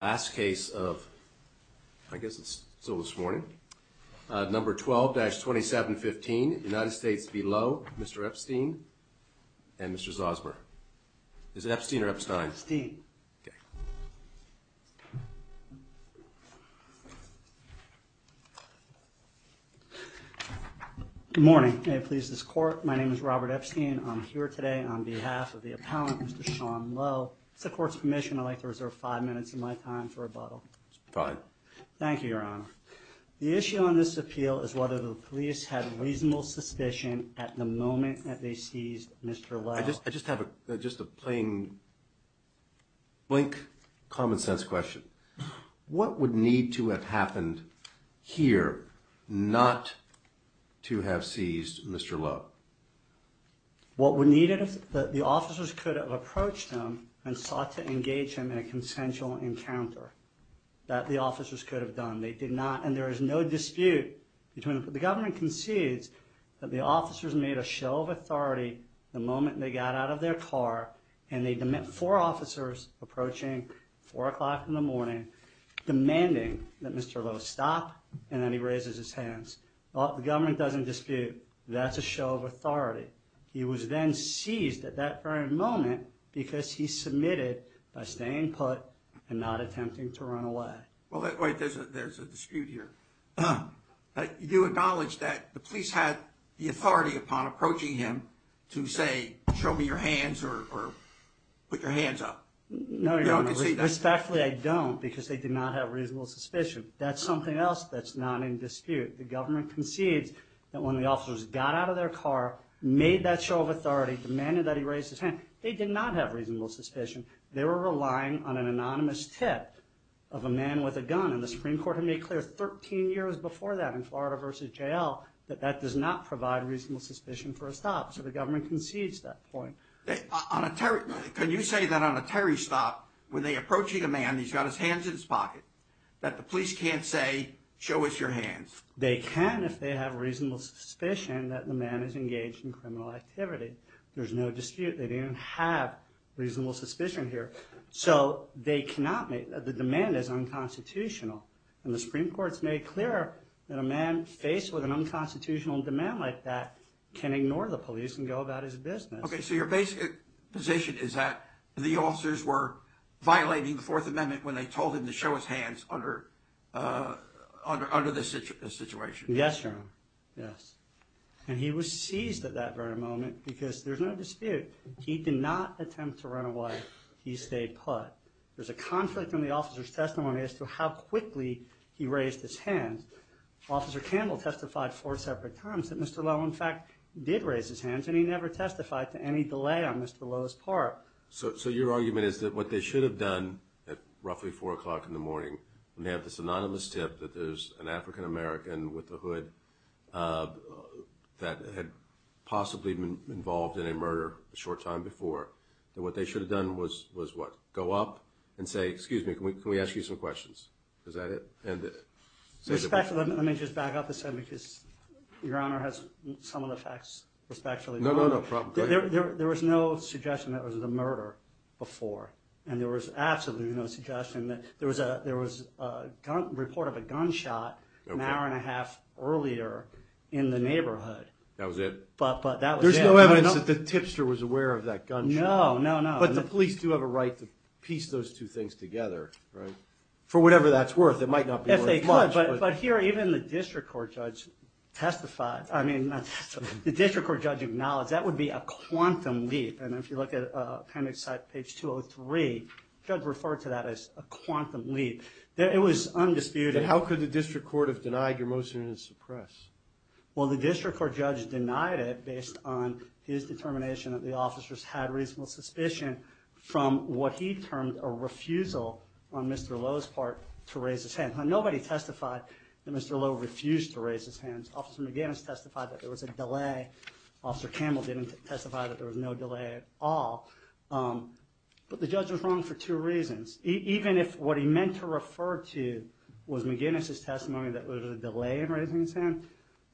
last case of, I guess it's still this morning, number 12-2715 United States v. Lowe, Mr. Epstein and Mr. Zosmer. Is it Epstein or Epstein? Epstein. Good morning. May it please this court, my name is Robert Epstein. I'm here today on behalf of the appellant, Mr. Sean Lowe. With the court's permission, I'd like to reserve five minutes of my time for rebuttal. Fine. Thank you, Your Honor. The issue on this appeal is whether the police had reasonable suspicion at the moment that they seized Mr. Lowe. I just have a plain-blank, common-sense question. What would need to have happened here not to have seized Mr. Lowe? Well, what would need it is that the officers could have approached him and sought to engage him in a consensual encounter. That the officers could have done. They did not, and there is no dispute. The government concedes that the officers made a show of authority the moment they got out of their car and they, four officers approaching four o'clock in the morning, demanding that Mr. Lowe stop and that he raises his hands. The government doesn't dispute. That's a show of authority. He was then seized at that very moment because he submitted by staying put and not attempting to run away. Well, wait, there's a dispute here. You do acknowledge that the police had the authority upon approaching him to say, show me your hands or put your hands up? Respectfully, I don't, because they did not have reasonable suspicion. That's something else that's not in dispute. The government concedes that when the officers got out of their car, made that show of authority, demanded that he raise his hand, they did not have reasonable suspicion. They were relying on an anonymous tip of a man with a gun, and the Supreme Court had made clear 13 years before that in Florida v. J.L. that that does not provide reasonable suspicion for a stop, so the government concedes that point. Can you say that on a Terry stop, when they're approaching a man, he's got his hands in his pocket, that the police can't say, show us your hands? They can if they have reasonable suspicion that the man is engaged in criminal activity. There's no dispute. They didn't have reasonable suspicion here. So they cannot make, the demand is unconstitutional, and the Supreme Court's made clear that a man faced with an unconstitutional demand like that can ignore the police and go about his business. Okay, so your basic position is that the officers were violating the Fourth Amendment when they told him to show his hands under this situation? Yes, Your Honor. Yes. And he was seized at that very moment because there's no dispute. He did not attempt to run away. He stayed put. There's a conflict in the officer's testimony as to how quickly he raised his hands. Officer Campbell testified four separate times that Mr. Lowe, in fact, did raise his hands, and he never testified to any delay on Mr. Lowe's part. So your argument is that what they should have done at roughly 4 o'clock in the morning, when they have this anonymous tip that there's an African-American with a hood that had possibly been involved in a murder a short time before, that what they should have done was, what, go up and say, excuse me, can we ask you some questions? Is that it? Let me just back up a second because Your Honor has some of the facts respectfully known. No, no, no, problem. There was no suggestion that it was a murder before, and there was absolutely no suggestion. There was a report of a gunshot an hour and a half earlier in the neighborhood. That was it? But that was it. There was no evidence that the tipster was aware of that gunshot. No, no, no. But the police do have a right to piece those two things together, right? For whatever that's worth, it might not be worth much. Yes, they could, but here even the district court judge testified. I mean, the district court judge acknowledged that would be a quantum leap, and if you look at appendix site page 203, the judge referred to that as a quantum leap. It was undisputed. How could the district court have denied your motion to suppress? Well, the district court judge denied it based on his determination that the officers had reasonable suspicion from what he termed a refusal on Mr. Lowe's part to raise his hand. Now, nobody testified that Mr. Lowe refused to raise his hand. Officer McGinnis testified that there was a delay. Officer Campbell didn't testify that there was no delay at all. But the judge was wrong for two reasons. Even if what he meant to refer to was McGinnis' testimony that there was a delay in raising his hand,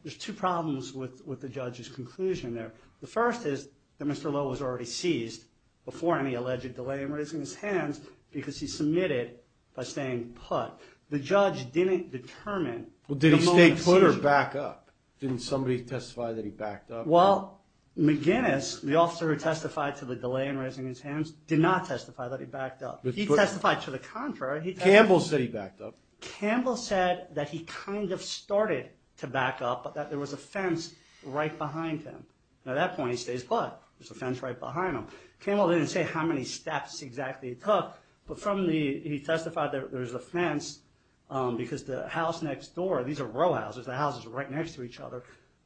there's two problems with the judge's conclusion there. The first is that Mr. Lowe was already seized before any alleged delay in raising his hands because he submitted by staying put. The judge didn't determine the moment of seizure. Well, did he stay put or back up? Didn't somebody testify that he backed up? Well, McGinnis, the officer who testified to the delay in raising his hands, did not testify that he backed up. He testified to the contrary. Campbell said he backed up. Campbell said that he kind of started to back up, but that there was a fence right behind him. At that point, he stays put. There's a fence right behind him. Campbell didn't say how many steps exactly it took, but he testified that there was a fence because the house next door, these are row houses, the houses are right next to each other.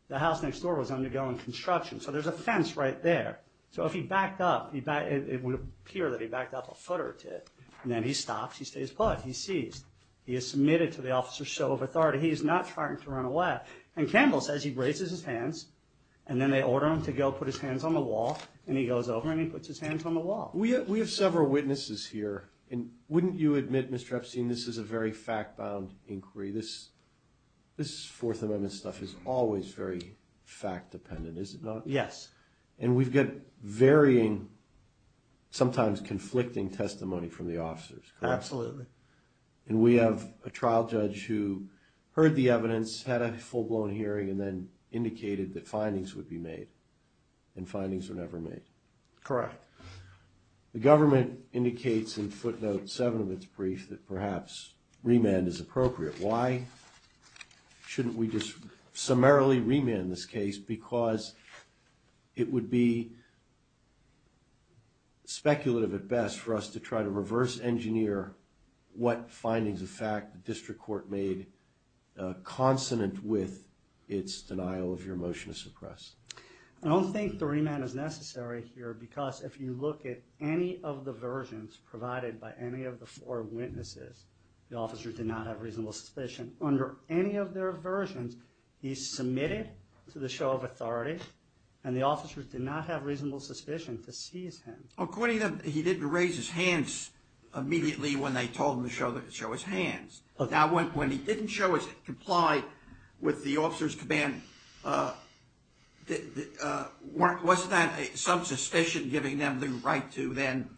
The house next door was undergoing construction, so there's a fence right there. So if he backed up, it would appear that he backed up a foot or two, and then he stops, he stays put, he's seized. He is submitted to the officer's show of authority. He is not trying to run away. And Campbell says he raises his hands, and then they order him to go put his hands on the wall, and he goes over and he puts his hands on the wall. We have several witnesses here, and wouldn't you admit, Mr. Epstein, this is a very fact-bound inquiry? This Fourth Amendment stuff is always very fact-dependent, is it not? Yes. And we've got varying, sometimes conflicting testimony from the officers, correct? Absolutely. And we have a trial judge who heard the evidence, had a full-blown hearing, and then indicated that findings would be made, and findings were never made. Correct. The government indicates in footnote 7 of its brief that perhaps remand is appropriate. Why shouldn't we just summarily remand this case? Because it would be speculative at best for us to try to reverse-engineer what findings of fact the district court made consonant with its denial of your motion to suppress. I don't think the remand is necessary here, because if you look at any of the versions provided by any of the four witnesses, the officers did not have reasonable suspicion. Under any of their versions, he's submitted to the show of authority, and the officers did not have reasonable suspicion to seize him. According to them, he didn't raise his hands immediately when they told him to show his hands. Now, when he didn't comply with the officers' command, wasn't that some suspicion giving them the right to then,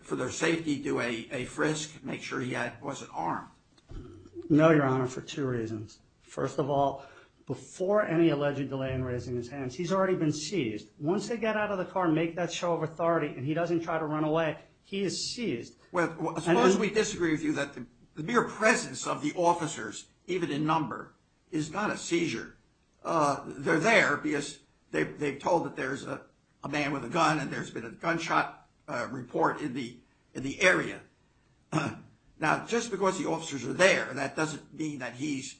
for their safety, do a frisk, make sure he wasn't armed? No, Your Honor, for two reasons. First of all, before any alleged delay in raising his hands, he's already been seized. Once they get out of the car and make that show of authority, and he doesn't try to run away, he is seized. Well, suppose we disagree with you that the mere presence of the officers, even in number, is not a seizure. They're there because they've told that there's a man with a gun and there's been a gunshot report in the area. Now, just because the officers are there, that doesn't mean that his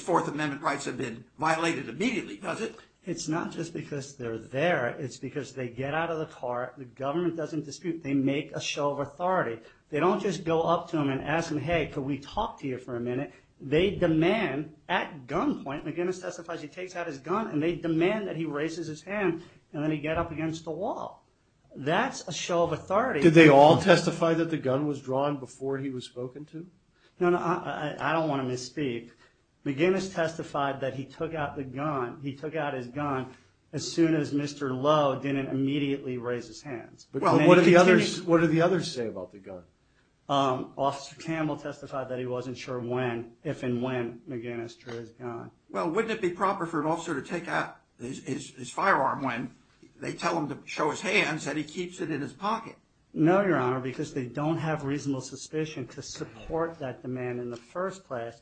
Fourth Amendment rights have been violated immediately, does it? It's not just because they're there, it's because they get out of the car, the government doesn't dispute, they make a show of authority. They don't just go up to him and ask him, hey, can we talk to you for a minute? They demand, at gunpoint, McGinnis testifies he takes out his gun, and they demand that he raises his hand, and then he get up against the wall. That's a show of authority. Did they all testify that the gun was drawn before he was spoken to? No, no, I don't want to misspeak. McGinnis testified that he took out his gun as soon as Mr. Lowe didn't immediately raise his hands. What did the others say about the gun? Officer Campbell testified that he wasn't sure when, if and when, McGinnis drew his gun. Well, wouldn't it be proper for an officer to take out his firearm when they tell him to show his hands and he keeps it in his pocket? No, Your Honor, because they don't have reasonable suspicion to support that demand in the first place.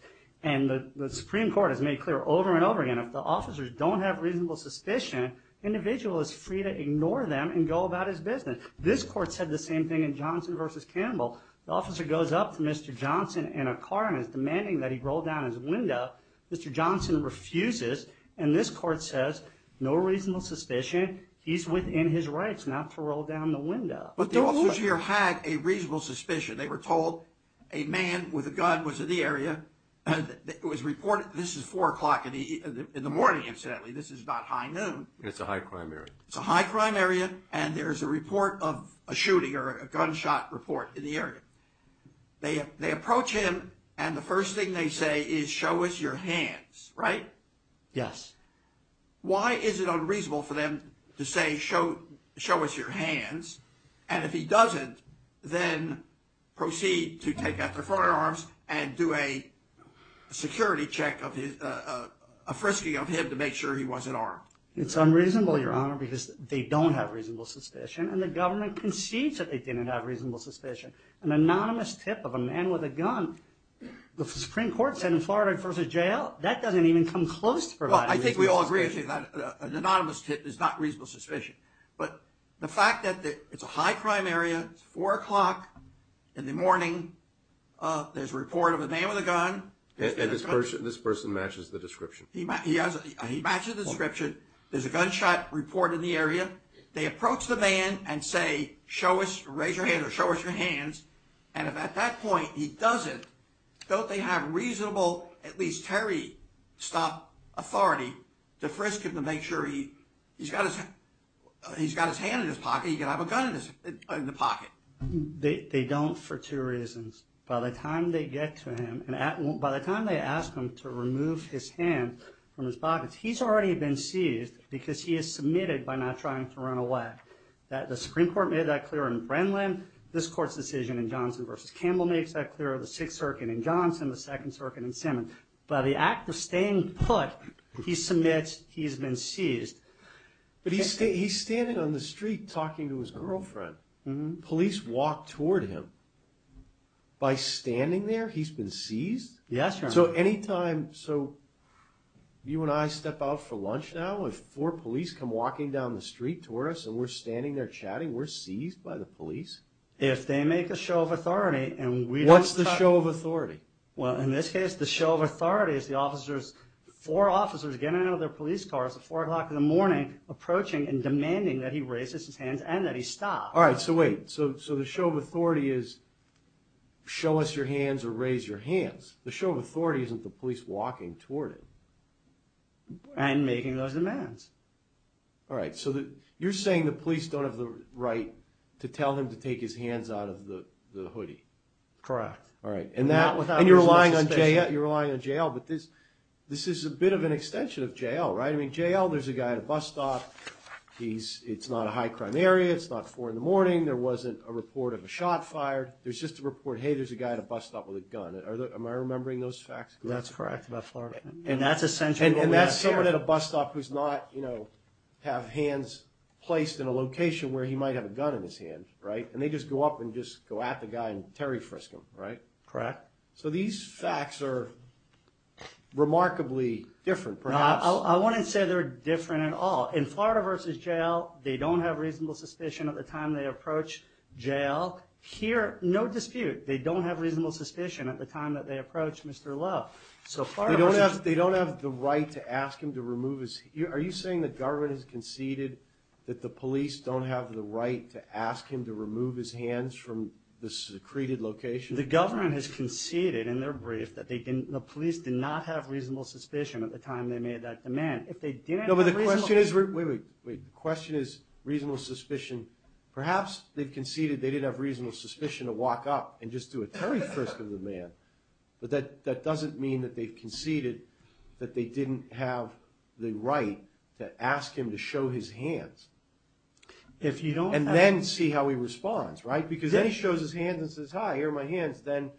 And the Supreme Court has made clear over and over again, if the officers don't have reasonable suspicion, the individual is free to ignore them and go about his business. This court said the same thing in Johnson v. Campbell. The officer goes up to Mr. Johnson in a car and is demanding that he roll down his window. Mr. Johnson refuses, and this court says, no reasonable suspicion. He's within his rights not to roll down the window. But the officers here had a reasonable suspicion. They were told a man with a gun was in the area. It was reported this is 4 o'clock in the morning, incidentally. This is not high noon. It's a high crime area. It's a high crime area, and there is a report of a shooting or a gunshot report in the area. They approach him, and the first thing they say is, show us your hands, right? Yes. Why is it unreasonable for them to say, show us your hands, and if he doesn't, then proceed to take out their firearms and do a security check, a frisking of him to make sure he wasn't armed? It's unreasonable, Your Honor, because they don't have reasonable suspicion, and the government concedes that they didn't have reasonable suspicion. An anonymous tip of a man with a gun, the Supreme Court said in Florida v. Jail, that doesn't even come close to providing reasonable suspicion. I think we all agree, actually, that an anonymous tip is not reasonable suspicion, but the fact that it's a high crime area, it's 4 o'clock in the morning, there's a report of a man with a gun. And this person matches the description. He matches the description. There's a gunshot report in the area. They approach the man and say, show us, raise your hand or show us your hands, and if at that point he doesn't, don't they have reasonable, at least terry-stop authority, to frisk him to make sure he's got his hand in his pocket, he could have a gun in his pocket? They don't for two reasons. By the time they get to him, by the time they ask him to remove his hand from his pocket, he's already been seized because he has submitted by not trying to run away. The Supreme Court made that clear in Brennan, this court's decision in Johnson v. Campbell makes that clear in the 6th Circuit in Johnson, the 2nd Circuit in Simmons. By the act of staying put, he submits he's been seized. But he's standing on the street talking to his girlfriend. Police walk toward him. By standing there, he's been seized? Yes, Your Honor. So any time, so you and I step out for lunch now, if four police come walking down the street toward us and we're standing there chatting, we're seized by the police? If they make a show of authority and we don't stop... What's the show of authority? Well, in this case, the show of authority is the officers, four officers getting out of their police cars at 4 o'clock in the morning, approaching and demanding that he raise his hands and that he stop. All right, so wait, so the show of authority is show us your hands or raise your hands. The show of authority isn't the police walking toward him. And making those demands. All right, so you're saying the police don't have the right to tell him to take his hands out of the hoodie. Correct. All right, and you're relying on JL, but this is a bit of an extension of JL, right? I mean, JL, there's a guy at a bus stop. It's not a high crime area. It's not 4 in the morning. There wasn't a report of a shot fired. There's just a report, hey, there's a guy at a bus stop with a gun. Am I remembering those facts correctly? That's correct. And that's essentially what we have here. And that's someone at a bus stop who's not, you know, have hands placed in a location where he might have a gun in his hand, right? And they just go up and just go at the guy and Terry Frisk him, right? Correct. So these facts are remarkably different, perhaps. I wouldn't say they're different at all. In Florida v. JL, they don't have reasonable suspicion at the time they approach JL. Here, no dispute. They don't have reasonable suspicion at the time that they approach Mr. Lowe. They don't have the right to ask him to remove his – are you saying the government has conceded that the police don't have the right to ask him to remove his hands from the secreted location? The government has conceded in their brief that they didn't – the police did not have reasonable suspicion at the time they made that demand. If they didn't have reasonable – No, but the question is – wait, wait, wait. The question is reasonable suspicion – perhaps they've conceded they didn't have reasonable suspicion to walk up and just do a Terry Frisk of the man. But that doesn't mean that they've conceded that they didn't have the right to ask him to show his hands. If you don't have – And then see how he responds, right? Because then he shows his hands and says, hi, here are my hands. Then,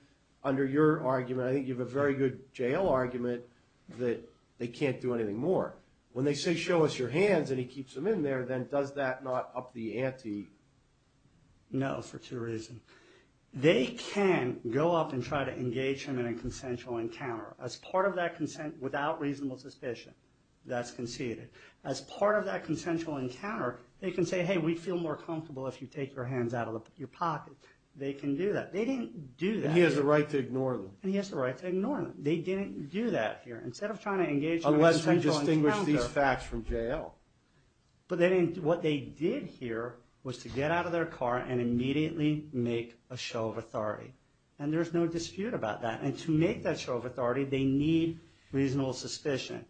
under your argument, I think you have a very good JL argument that they can't do anything more. When they say, show us your hands, and he keeps them in there, then does that not up the ante? No, for two reasons. They can go up and try to engage him in a consensual encounter. As part of that – without reasonable suspicion, that's conceded. As part of that consensual encounter, they can say, hey, we'd feel more comfortable if you take your hands out of your pocket. They can do that. They didn't do that. And he has the right to ignore them. And he has the right to ignore them. They didn't do that here. Instead of trying to engage him in a consensual encounter – Unless you distinguish these facts from JL. But they didn't – what they did here was to get out of their car and immediately make a show of authority. And there's no dispute about that. And to make that show of authority, they need reasonable suspicion.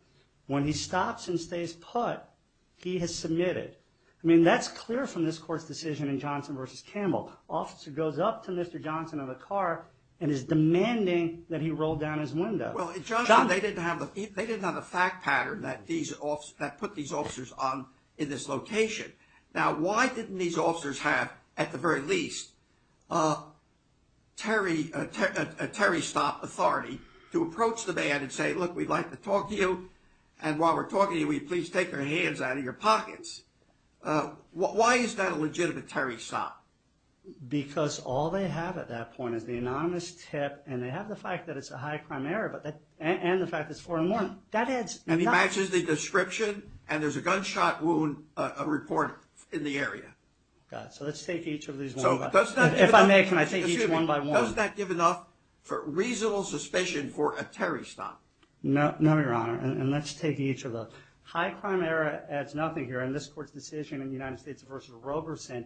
When he stops and stays put, he has submitted. I mean, that's clear from this court's decision in Johnson v. Campbell. Officer goes up to Mr. Johnson in the car and is demanding that he roll down his window. Well, Johnson, they didn't have the fact pattern that put these officers in this location. Now, why didn't these officers have, at the very least, a Terry stop authority to approach the man and say, look, we'd like to talk to you. And while we're talking to you, will you please take your hands out of your pockets? Why is that a legitimate Terry stop? Because all they have at that point is the anonymous tip and they have the fact that it's a high crime error and the fact that it's 4-1. And he matches the description and there's a gunshot wound report in the area. So let's take each of these one by one. If I may, can I take each one by one? Does that give enough reasonable suspicion for a Terry stop? No, Your Honor. And let's take each of those. High crime error adds nothing here. And this court's decision in the United States v. Roberson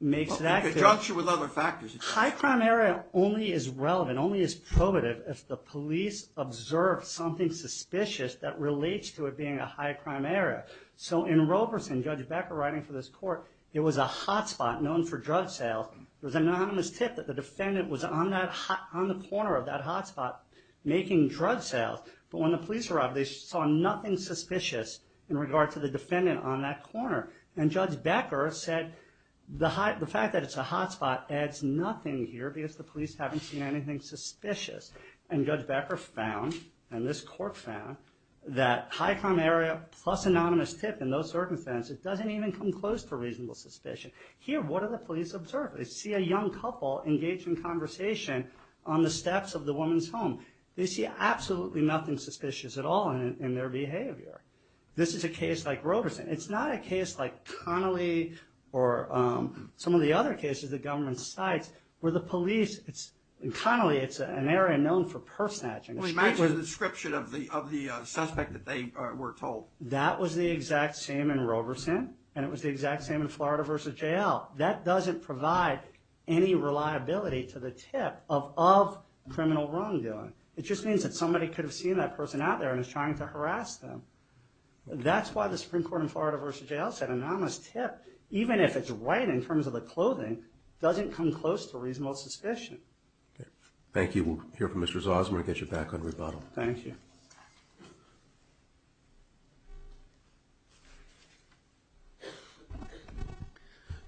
makes that clear. In conjunction with other factors. High crime error only is relevant, only is probative, if the police observe something suspicious that relates to it being a high crime error. So in Roberson, Judge Becker writing for this court, there was a hotspot known for drug sales. There was an anonymous tip that the defendant was on the corner of that hotspot making drug sales. But when the police arrived, they saw nothing suspicious in regard to the defendant on that corner. And Judge Becker said the fact that it's a hotspot adds nothing here because the police haven't seen anything suspicious. And Judge Becker found, and this court found, that high crime error plus anonymous tip in those circumstances doesn't even come close to reasonable suspicion. Here, what do the police observe? They see a young couple engaged in conversation on the steps of the woman's home. They see absolutely nothing suspicious at all in their behavior. This is a case like Roberson. It's not a case like Connolly or some of the other cases the government cites where the police, in Connolly, it's an area known for purse snatching. Well, imagine the description of the suspect that they were told. That was the exact same in Roberson, and it was the exact same in Florida v. J.L. That doesn't provide any reliability to the tip of criminal wrongdoing. It just means that somebody could have seen that person out there and is trying to harass them. That's why the Supreme Court in Florida v. J.L. said anonymous tip, even if it's right in terms of the clothing, doesn't come close to reasonable suspicion. Thank you. We'll hear from Mr. Zosmer and get you back on rebuttal. Thank you.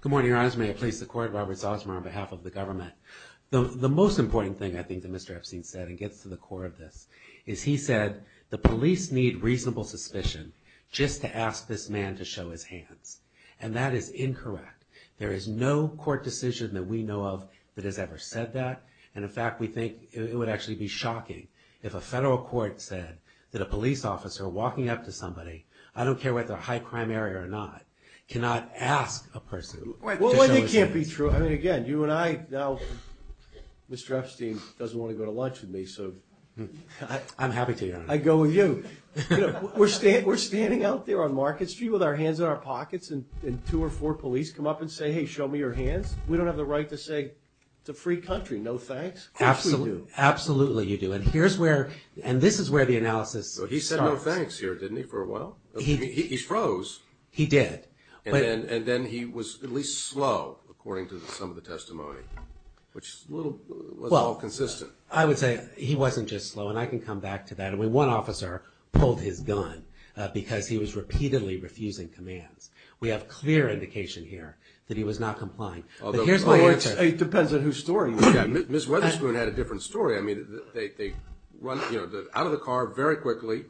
Good morning, Your Honor. May I please support Robert Zosmer on behalf of the government? The most important thing I think that Mr. Epstein said, and gets to the core of this, is he said the police need reasonable suspicion just to ask this man to show his hands. And that is incorrect. There is no court decision that we know of that has ever said that. And, in fact, we think it would actually be shocking if a federal court said that a police officer walking up to somebody, I don't care whether a high crime area or not, cannot ask a person to show his hands. Well, it can't be true. I mean, again, you and I, now, Mr. Epstein doesn't want to go to lunch with me, so. I'm happy to, Your Honor. I'd go with you. We're standing out there on Market Street with our hands in our pockets and two or four police come up and say, hey, show me your hands. We don't have the right to say, it's a free country, no thanks. Absolutely. Which we do. Absolutely you do. And here's where, and this is where the analysis starts. He said no thanks here, didn't he, for a while? He froze. He did. And then he was at least slow, according to some of the testimony, which was all consistent. Well, I would say he wasn't just slow, and I can come back to that. I mean, one officer pulled his gun because he was repeatedly refusing commands. We have clear indication here that he was not complying. But here's my answer. It depends on whose story you've got. Ms. Weatherspoon had a different story. I mean, they run out of the car very quickly,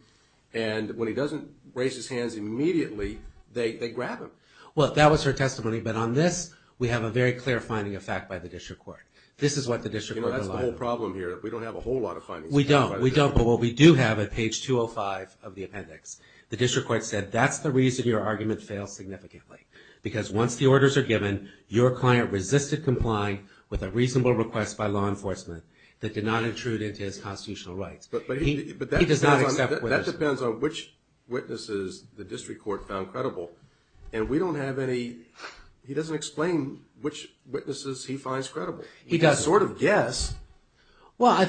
and when he doesn't raise his hands immediately, they grab him. Well, that was her testimony. But on this, we have a very clear finding of fact by the district court. This is what the district court. You know, that's the whole problem here. We don't have a whole lot of findings. We don't. We don't. But what we do have at page 205 of the appendix, the district court said that's the reason your argument failed significantly. Because once the orders are given, your client resisted complying with a reasonable request by law enforcement that did not intrude into his constitutional rights. But that depends on which witnesses the district court found credible. And we don't have any – he doesn't explain which witnesses he finds credible. He doesn't. He sort of guessed. We know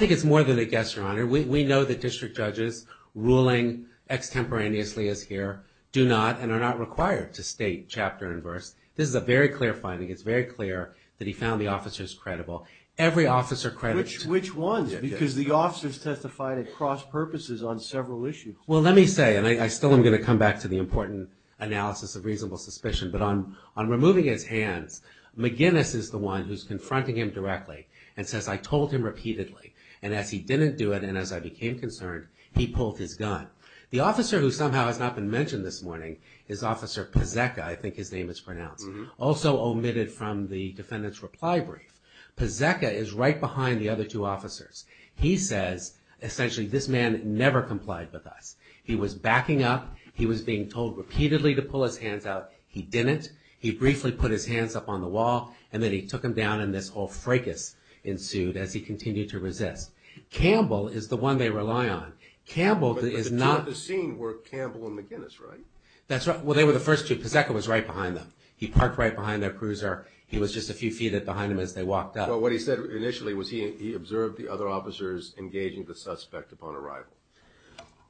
that district judges ruling extemporaneously as here do not and are not required to state chapter and verse. This is a very clear finding. It's very clear that he found the officers credible. Every officer credible. Which ones? Because the officers testified at cross purposes on several issues. Well, let me say, and I still am going to come back to the important analysis of reasonable suspicion. But on removing his hands, McGinnis is the one who's confronting him directly and says, I told him repeatedly. And as he didn't do it and as I became concerned, he pulled his gun. The officer who somehow has not been mentioned this morning is Officer Pazeka. I think his name is pronounced. Also omitted from the defendant's reply brief. Pazeka is right behind the other two officers. He says, essentially, this man never complied with us. He was backing up. He was being told repeatedly to pull his hands out. He didn't. He briefly put his hands up on the wall. And then he took them down and this whole fracas ensued as he continued to resist. Campbell is the one they rely on. Campbell is not. But the two at the scene were Campbell and McGinnis, right? That's right. Well, they were the first two. Pazeka was right behind them. He parked right behind their cruiser. He was just a few feet behind them as they walked up. Well, what he said initially was he observed the other officers engaging the suspect upon arrival.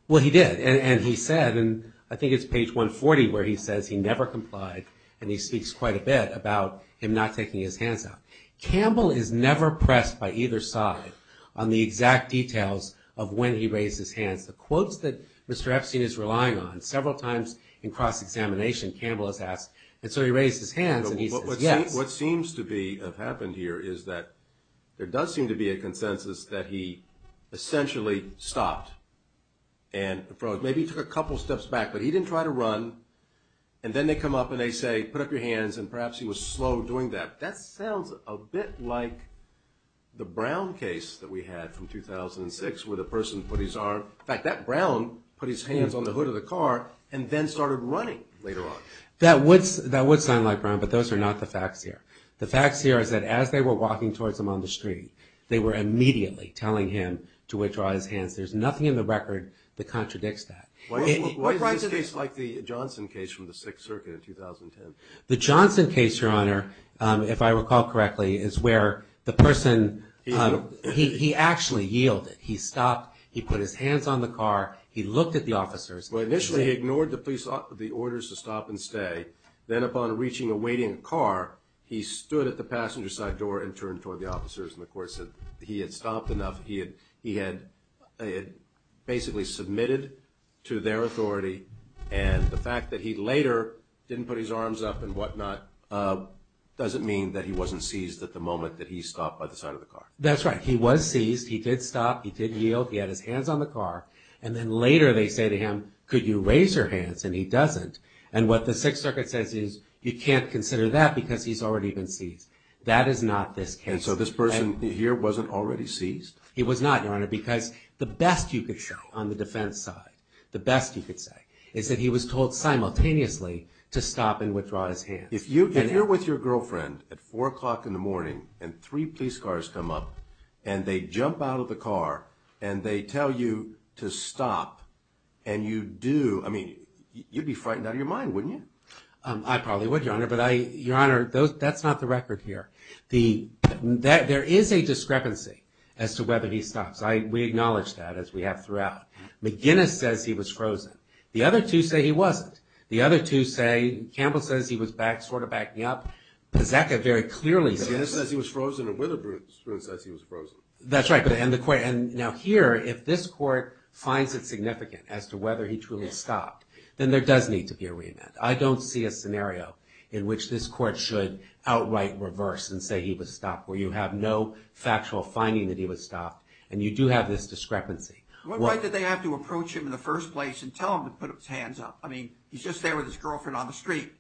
Well, he did. And he said, and I think it's page 140 where he says he never complied. And he speaks quite a bit about him not taking his hands out. Campbell is never pressed by either side on the exact details of when he raised his hands. The quotes that Mr. Epstein is relying on, several times in cross-examination, Campbell is asked. And so he raised his hands and he says, yes. What seems to have happened here is that there does seem to be a consensus that he essentially stopped and maybe took a couple steps back, but he didn't try to run. And then they come up and they say, put up your hands, and perhaps he was slow doing that. That sounds a bit like the Brown case that we had from 2006 where the person put his arm. In fact, that Brown put his hands on the hood of the car and then started running later on. That would sound like Brown, but those are not the facts here. The facts here is that as they were walking towards him on the street, they were immediately telling him to withdraw his hands. There's nothing in the record that contradicts that. What is this case like, the Johnson case from the Sixth Circuit in 2010? The Johnson case, Your Honor, if I recall correctly, is where the person, he actually yielded. He stopped. He put his hands on the car. He looked at the officers. Well, initially he ignored the police, the orders to stop and stay. Then upon reaching a waiting car, he stood at the passenger side door and turned toward the officers. And the court said he had stopped enough. He had basically submitted to their authority. And the fact that he later didn't put his arms up and whatnot doesn't mean that he wasn't seized at the moment that he stopped by the side of the car. That's right. He was seized. He did stop. He did yield. He had his hands on the car. And then later they say to him, could you raise your hands? And he doesn't. And what the Sixth Circuit says is you can't consider that because he's already been seized. That is not this case. And so this person here wasn't already seized? He was not, Your Honor, because the best you could show on the defense side, the best you could say, is that he was told simultaneously to stop and withdraw his hands. If you're with your girlfriend at 4 o'clock in the morning and three police cars come up and they jump out of the car and they tell you to stop and you do, I mean, you'd be frightened out of your mind, wouldn't you? I probably would, Your Honor. But, Your Honor, that's not the record here. There is a discrepancy as to whether he stops. We acknowledge that, as we have throughout. McGinnis says he was frozen. The other two say he wasn't. The other two say, Campbell says he was back, sort of backing up. Pizzacca very clearly says. McGinnis says he was frozen and Witherbroon says he was frozen. That's right. And now here, if this court finds it significant as to whether he truly stopped, then there does need to be a remand. I don't see a scenario in which this court should outright reverse and say he was stopped, where you have no factual finding that he was stopped and you do have this discrepancy. Why did they have to approach him in the first place and tell him to put his hands up? I mean, he's just there with his girlfriend on the street.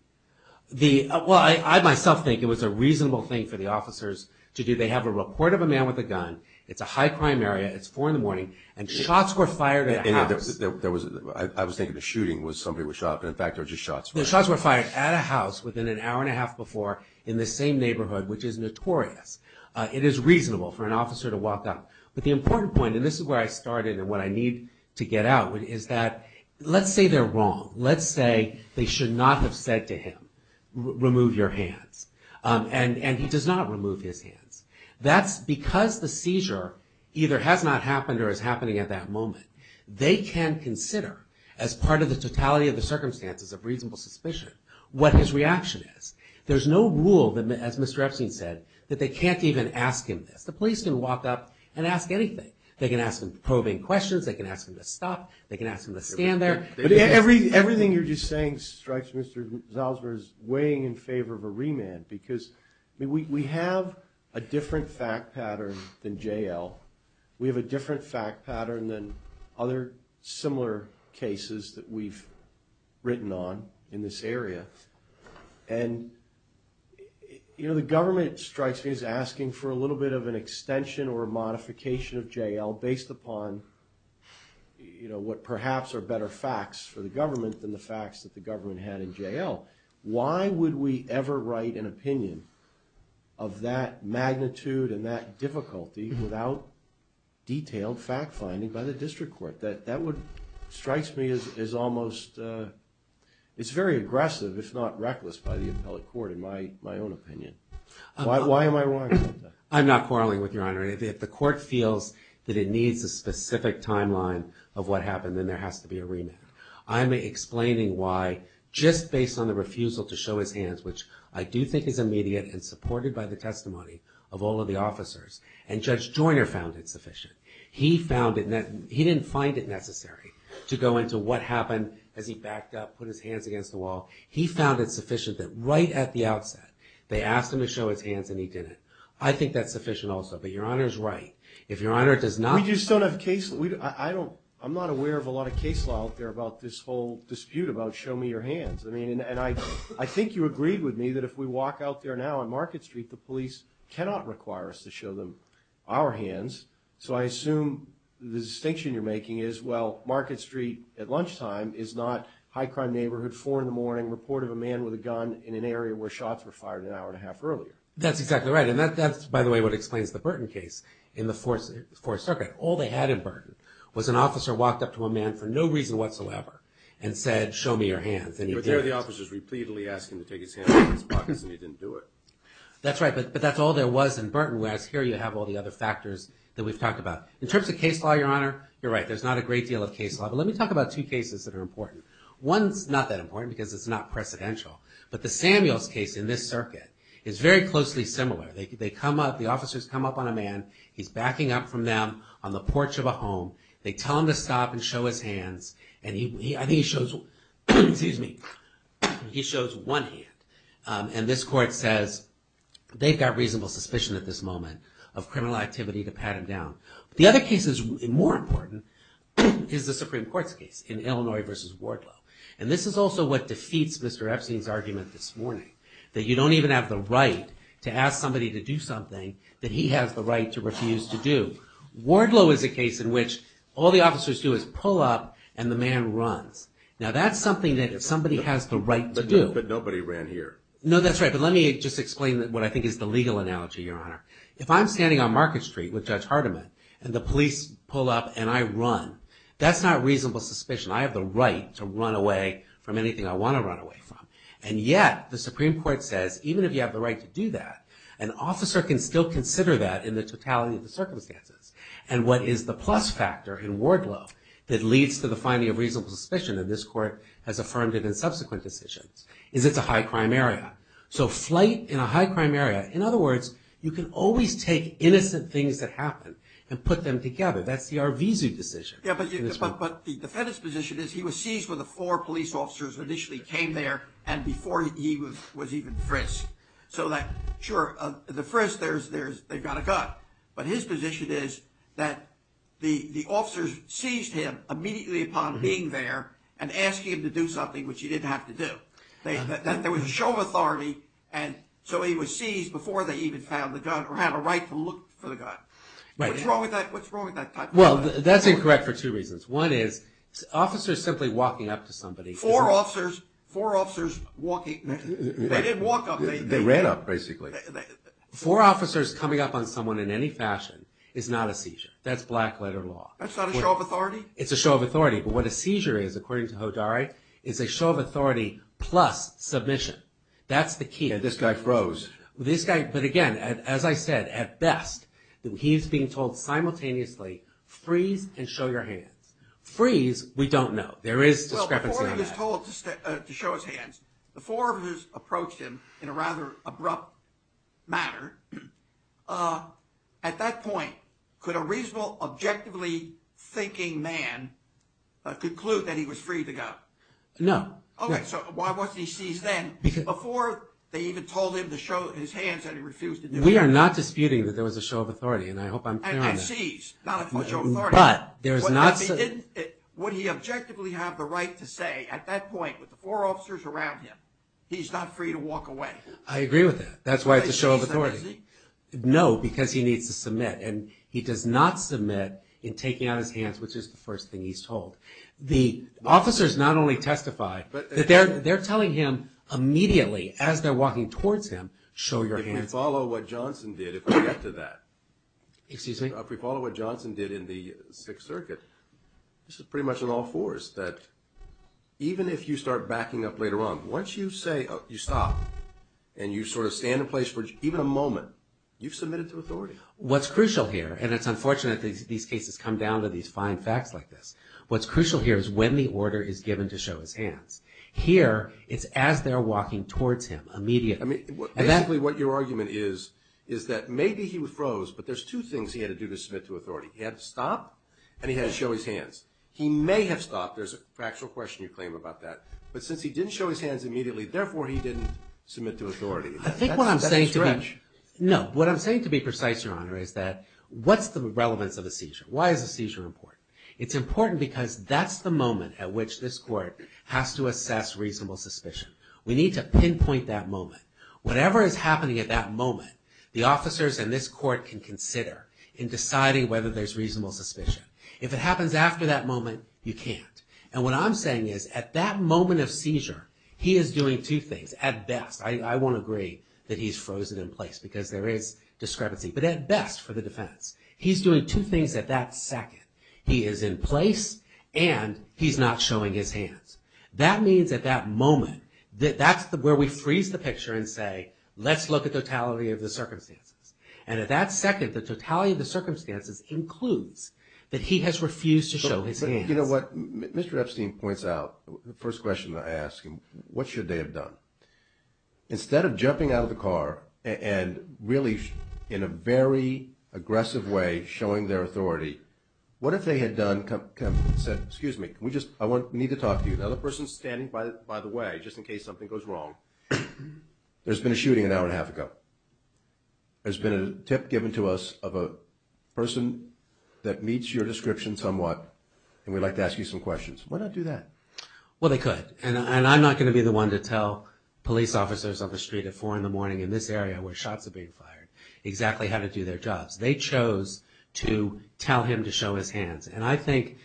Well, I myself think it was a reasonable thing for the officers to do. They have a report of a man with a gun. It's a high-crime area. It's 4 in the morning and shots were fired at a house. I was thinking the shooting was somebody was shot, but in fact there were just shots. The shots were fired at a house within an hour and a half before in the same neighborhood, which is notorious. It is reasonable for an officer to walk out. But the important point, and this is where I started and what I need to get out, is that let's say they're wrong. Let's say they should not have said to him, remove your hands. And he does not remove his hands. Because the seizure either has not happened or is happening at that moment, they can consider as part of the totality of the circumstances of reasonable suspicion what his reaction is. There's no rule, as Mr. Epstein said, that they can't even ask him this. The police can walk up and ask anything. They can ask him probing questions. They can ask him to stop. They can ask him to stand there. But everything you're just saying strikes Mr. Zalzberg as weighing in favor of a remand because we have a different fact pattern than J.L. We have a different fact pattern than other similar cases that we've written on in this area. And, you know, the government strikes me as asking for a little bit of an extension or a modification of J.L. based upon, you know, what perhaps are better facts for the government than the facts that the government had in J.L. Why would we ever write an opinion of that magnitude and that difficulty without detailed fact-finding by the district court? That strikes me as almost very aggressive, if not reckless, by the appellate court, in my own opinion. Why am I wrong about that? I'm not quarreling with Your Honor. If the court feels that it needs a specific timeline of what happened, then there has to be a remand. I'm explaining why, just based on the refusal to show his hands, which I do think is immediate and supported by the testimony of all of the officers. And Judge Joyner found it sufficient. He found it, he didn't find it necessary to go into what happened as he backed up, put his hands against the wall. He found it sufficient that right at the outset they asked him to show his hands and he didn't. I think that's sufficient also. But Your Honor's right. If Your Honor does not... I'm not aware of a lot of case law out there about this whole dispute about show me your hands. And I think you agreed with me that if we walk out there now on Market Street, the police cannot require us to show them our hands. So I assume the distinction you're making is, well, Market Street at lunchtime is not high crime neighborhood, 4 in the morning, report of a man with a gun in an area where shots were fired an hour and a half earlier. That's exactly right. And that's, by the way, what explains the Burton case in the Fourth Circuit. All they had in Burton was an officer walked up to a man for no reason whatsoever and said, show me your hands and he didn't. But there were the officers repeatedly asking him to take his hands out of his pockets and he didn't do it. That's right. But that's all there was in Burton. Whereas here you have all the other factors that we've talked about. In terms of case law, Your Honor, you're right, there's not a great deal of case law. But let me talk about two cases that are important. One's not that important because it's not precedential. But the Samuels case in this circuit is very closely similar. They come up, the officers come up on a man. He's backing up from them on the porch of a home. They tell him to stop and show his hands. And I think he shows one hand. And this court says they've got reasonable suspicion at this moment of criminal activity to pat him down. The other case that's more important is the Supreme Court's case in Illinois v. Wardlow. And this is also what defeats Mr. Epstein's argument this morning, that you don't even have the right to ask somebody to do something that he has the right to refuse to do. Wardlow is a case in which all the officers do is pull up and the man runs. Now that's something that if somebody has the right to do. But nobody ran here. No, that's right. But let me just explain what I think is the legal analogy, Your Honor. If I'm standing on Market Street with Judge Hardiman and the police pull up and I run, that's not reasonable suspicion. I have the right to run away from anything I want to run away from. And yet the Supreme Court says even if you have the right to do that, an officer can still consider that in the totality of the circumstances. And what is the plus factor in Wardlow that leads to the finding of reasonable suspicion and this court has affirmed it in subsequent decisions is it's a high crime area. So flight in a high crime area, in other words, you can always take innocent things that happen and put them together. That's the Arvizu decision. Yeah, but the defendant's position is he was seized when the four police officers initially came there and before he was even frisked. So that, sure, the frisk, they've got a gun. But his position is that the officers seized him immediately upon being there and asking him to do something which he didn't have to do. There was a show of authority and so he was seized before they even found the gun or had a right to look for the gun. What's wrong with that type of thing? Well, that's incorrect for two reasons. One is officers simply walking up to somebody. Four officers walking. They didn't walk up. They ran up, basically. Four officers coming up on someone in any fashion is not a seizure. That's black letter law. That's not a show of authority? It's a show of authority. But what a seizure is, according to Hodari, is a show of authority plus submission. That's the key. Yeah, this guy froze. But, again, as I said, at best he's being told simultaneously, freeze and show your hands. Freeze, we don't know. There is discrepancy on that. Well, before he was told to show his hands, before he was approached in a rather abrupt manner, at that point could a reasonable, objectively thinking man conclude that he was free to go? No. Okay, so why wasn't he seized then? Before they even told him to show his hands and he refused to do it. We are not disputing that there was a show of authority, and I hope I'm clear on that. And seized, not a show of authority. But there is not. Would he objectively have the right to say at that point with the four officers around him, he's not free to walk away? I agree with that. That's why it's a show of authority. No, because he needs to submit. And he does not submit in taking out his hands, which is the first thing he's told. The officers not only testify, but they're telling him immediately as they're walking towards him, show your hands. If we follow what Johnson did, if we get to that. Excuse me? If we follow what Johnson did in the Sixth Circuit, this is pretty much an all fours, that even if you start backing up later on, once you say, you stop, and you sort of stand in place for even a moment, you've submitted to authority. What's crucial here, and it's unfortunate that these cases come down to these fine facts like this, what's crucial here is when the order is given to show his hands. Here, it's as they're walking towards him, immediately. Basically what your argument is, is that maybe he was froze, but there's two things he had to do to submit to authority. He had to stop, and he had to show his hands. He may have stopped, there's a factual question you claim about that, but since he didn't show his hands immediately, therefore he didn't submit to authority. I think what I'm saying to be precise, Your Honor, is that what's the relevance of a seizure? Why is a seizure important? It's important because that's the moment at which this court has to assess reasonable suspicion. We need to pinpoint that moment. Whatever is happening at that moment, the officers and this court can consider in deciding whether there's reasonable suspicion. If it happens after that moment, you can't. And what I'm saying is, at that moment of seizure, he is doing two things. At best, I won't agree that he's frozen in place, because there is discrepancy, but at best for the defense, he's doing two things at that second. He is in place, and he's not showing his hands. That means at that moment, that's where we freeze the picture and say, let's look at the totality of the circumstances. And at that second, the totality of the circumstances includes that he has refused to show his hands. But you know what? Mr. Epstein points out, the first question I ask him, what should they have done? Instead of jumping out of the car and really, in a very aggressive way, showing their authority, what if they had done, said, excuse me, I need to talk to you. Another person is standing by the way, just in case something goes wrong. There's been a shooting an hour and a half ago. There's been a tip given to us of a person that meets your description somewhat, and we'd like to ask you some questions. Why not do that? Well, they could. And I'm not going to be the one to tell police officers on the street at 4 in the morning in this area where shots are being fired exactly how to do their jobs. They chose to tell him to show his hands. And I think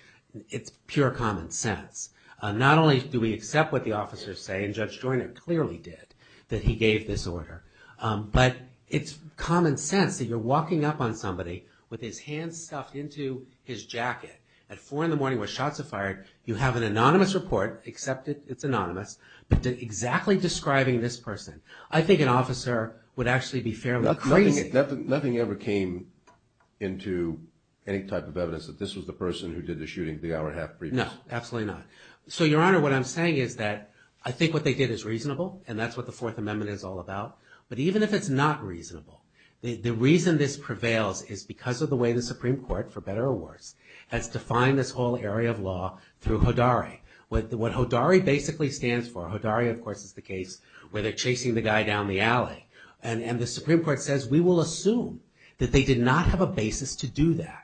it's pure common sense. Not only do we accept what the officers say, and Judge Joyner clearly did, that he gave this order, but it's common sense that you're walking up on somebody with his hands stuffed into his jacket at 4 in the morning where shots are fired. You have an anonymous report, except it's anonymous, but exactly describing this person. I think an officer would actually be fairly crazy. Nothing ever came into any type of evidence that this was the person who did the shooting the hour and a half previous? No, absolutely not. So, Your Honor, what I'm saying is that I think what they did is reasonable, and that's what the Fourth Amendment is all about. But even if it's not reasonable, the reason this prevails is because of the way the Supreme Court, for better or worse, has defined this whole area of law through HODARI. What HODARI basically stands for, HODARI of course is the case where they're chasing the guy down the alley, and the Supreme Court says we will assume that they did not have a basis to do that.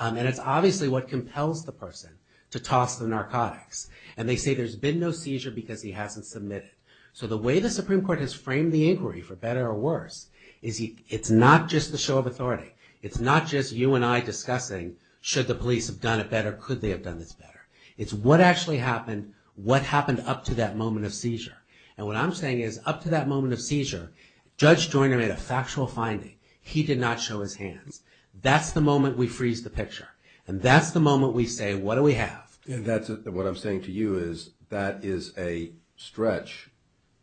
And it's obviously what compels the person to toss the narcotics. And they say there's been no seizure because he hasn't submitted. So the way the Supreme Court has framed the inquiry, for better or worse, is it's not just the show of authority. It's not just you and I discussing should the police have done it better, could they have done this better. It's what actually happened, what happened up to that moment of seizure. And what I'm saying is up to that moment of seizure, Judge Joyner made a factual finding. He did not show his hands. That's the moment we freeze the picture, and that's the moment we say what do we have. And that's what I'm saying to you is that is a stretch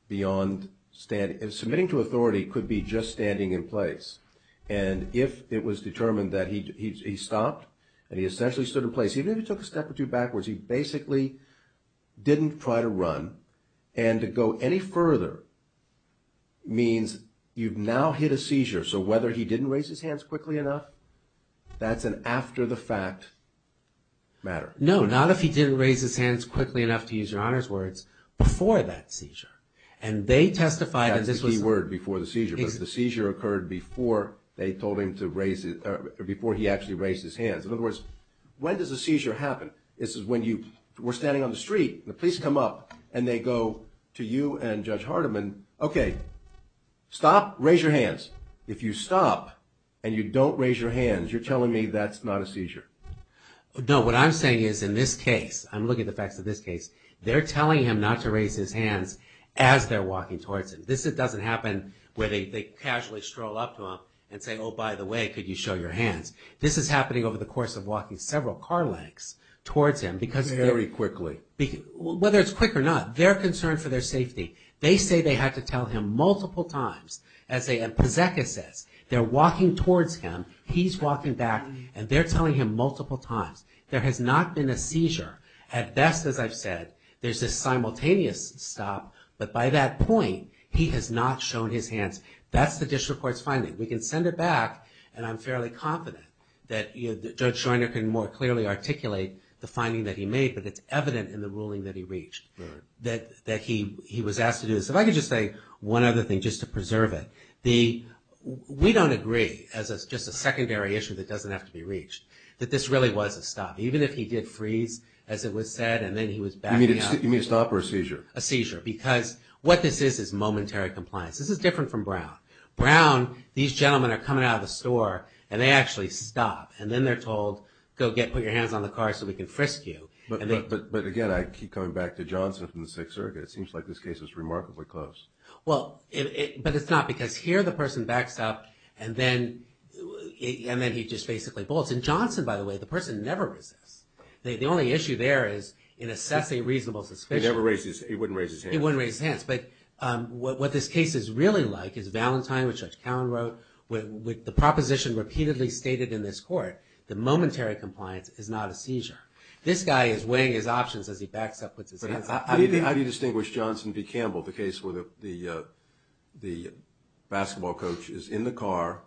beyond standing. Submitting to authority could be just standing in place. And if it was determined that he stopped and he essentially stood in place, even if he took a step or two backwards, he basically didn't try to run. And to go any further means you've now hit a seizure. So whether he didn't raise his hands quickly enough, that's an after-the-fact matter. No, not if he didn't raise his hands quickly enough, to use your Honor's words, before that seizure. And they testified that this was... That's the key word, before the seizure. But if the seizure occurred before they told him to raise his, or before he actually raised his hands. In other words, when does a seizure happen? This is when you were standing on the street, the police come up and they go to you and Judge Hardiman, okay, stop, raise your hands. If you stop and you don't raise your hands, you're telling me that's not a seizure. No, what I'm saying is in this case, I'm looking at the facts of this case, they're telling him not to raise his hands as they're walking towards him. This doesn't happen where they casually stroll up to him and say, oh, by the way, could you show your hands. This is happening over the course of walking several car lengths towards him because... Very quickly. Whether it's quick or not, they're concerned for their safety. They say they had to tell him multiple times, as Pozeka says. They're walking towards him, he's walking back, and they're telling him multiple times. There has not been a seizure. At best, as I've said, there's a simultaneous stop, but by that point, he has not shown his hands. That's the district court's finding. We can send it back, and I'm fairly confident that Judge Scheuner can more clearly articulate the finding that he made, but it's evident in the ruling that he reached, that he was asked to do this. If I could just say one other thing, just to preserve it. We don't agree, as it's just a secondary issue that doesn't have to be reached, that this really was a stop. Even if he did freeze, as it was said, and then he was backing up. You mean a stop or a seizure? A seizure, because what this is is momentary compliance. This is different from Brown. Brown, these gentlemen are coming out of the store, and they actually stop, and then they're told, go get, put your hands on the car so we can frisk you. But again, I keep coming back to Johnson from the Sixth Circuit. It seems like this case is remarkably close. Well, but it's not, because here the person backs up, and then he just basically bolts. And Johnson, by the way, the person never resists. The only issue there is in assessing reasonable suspicion. He never raises, he wouldn't raise his hands. He wouldn't raise his hands. But what this case is really like is Valentine, which Judge Cowen wrote, with the proposition repeatedly stated in this court that momentary compliance is not a seizure. This guy is weighing his options as he backs up with his hands. How do you distinguish Johnson v. Campbell, the case where the basketball coach is in the car,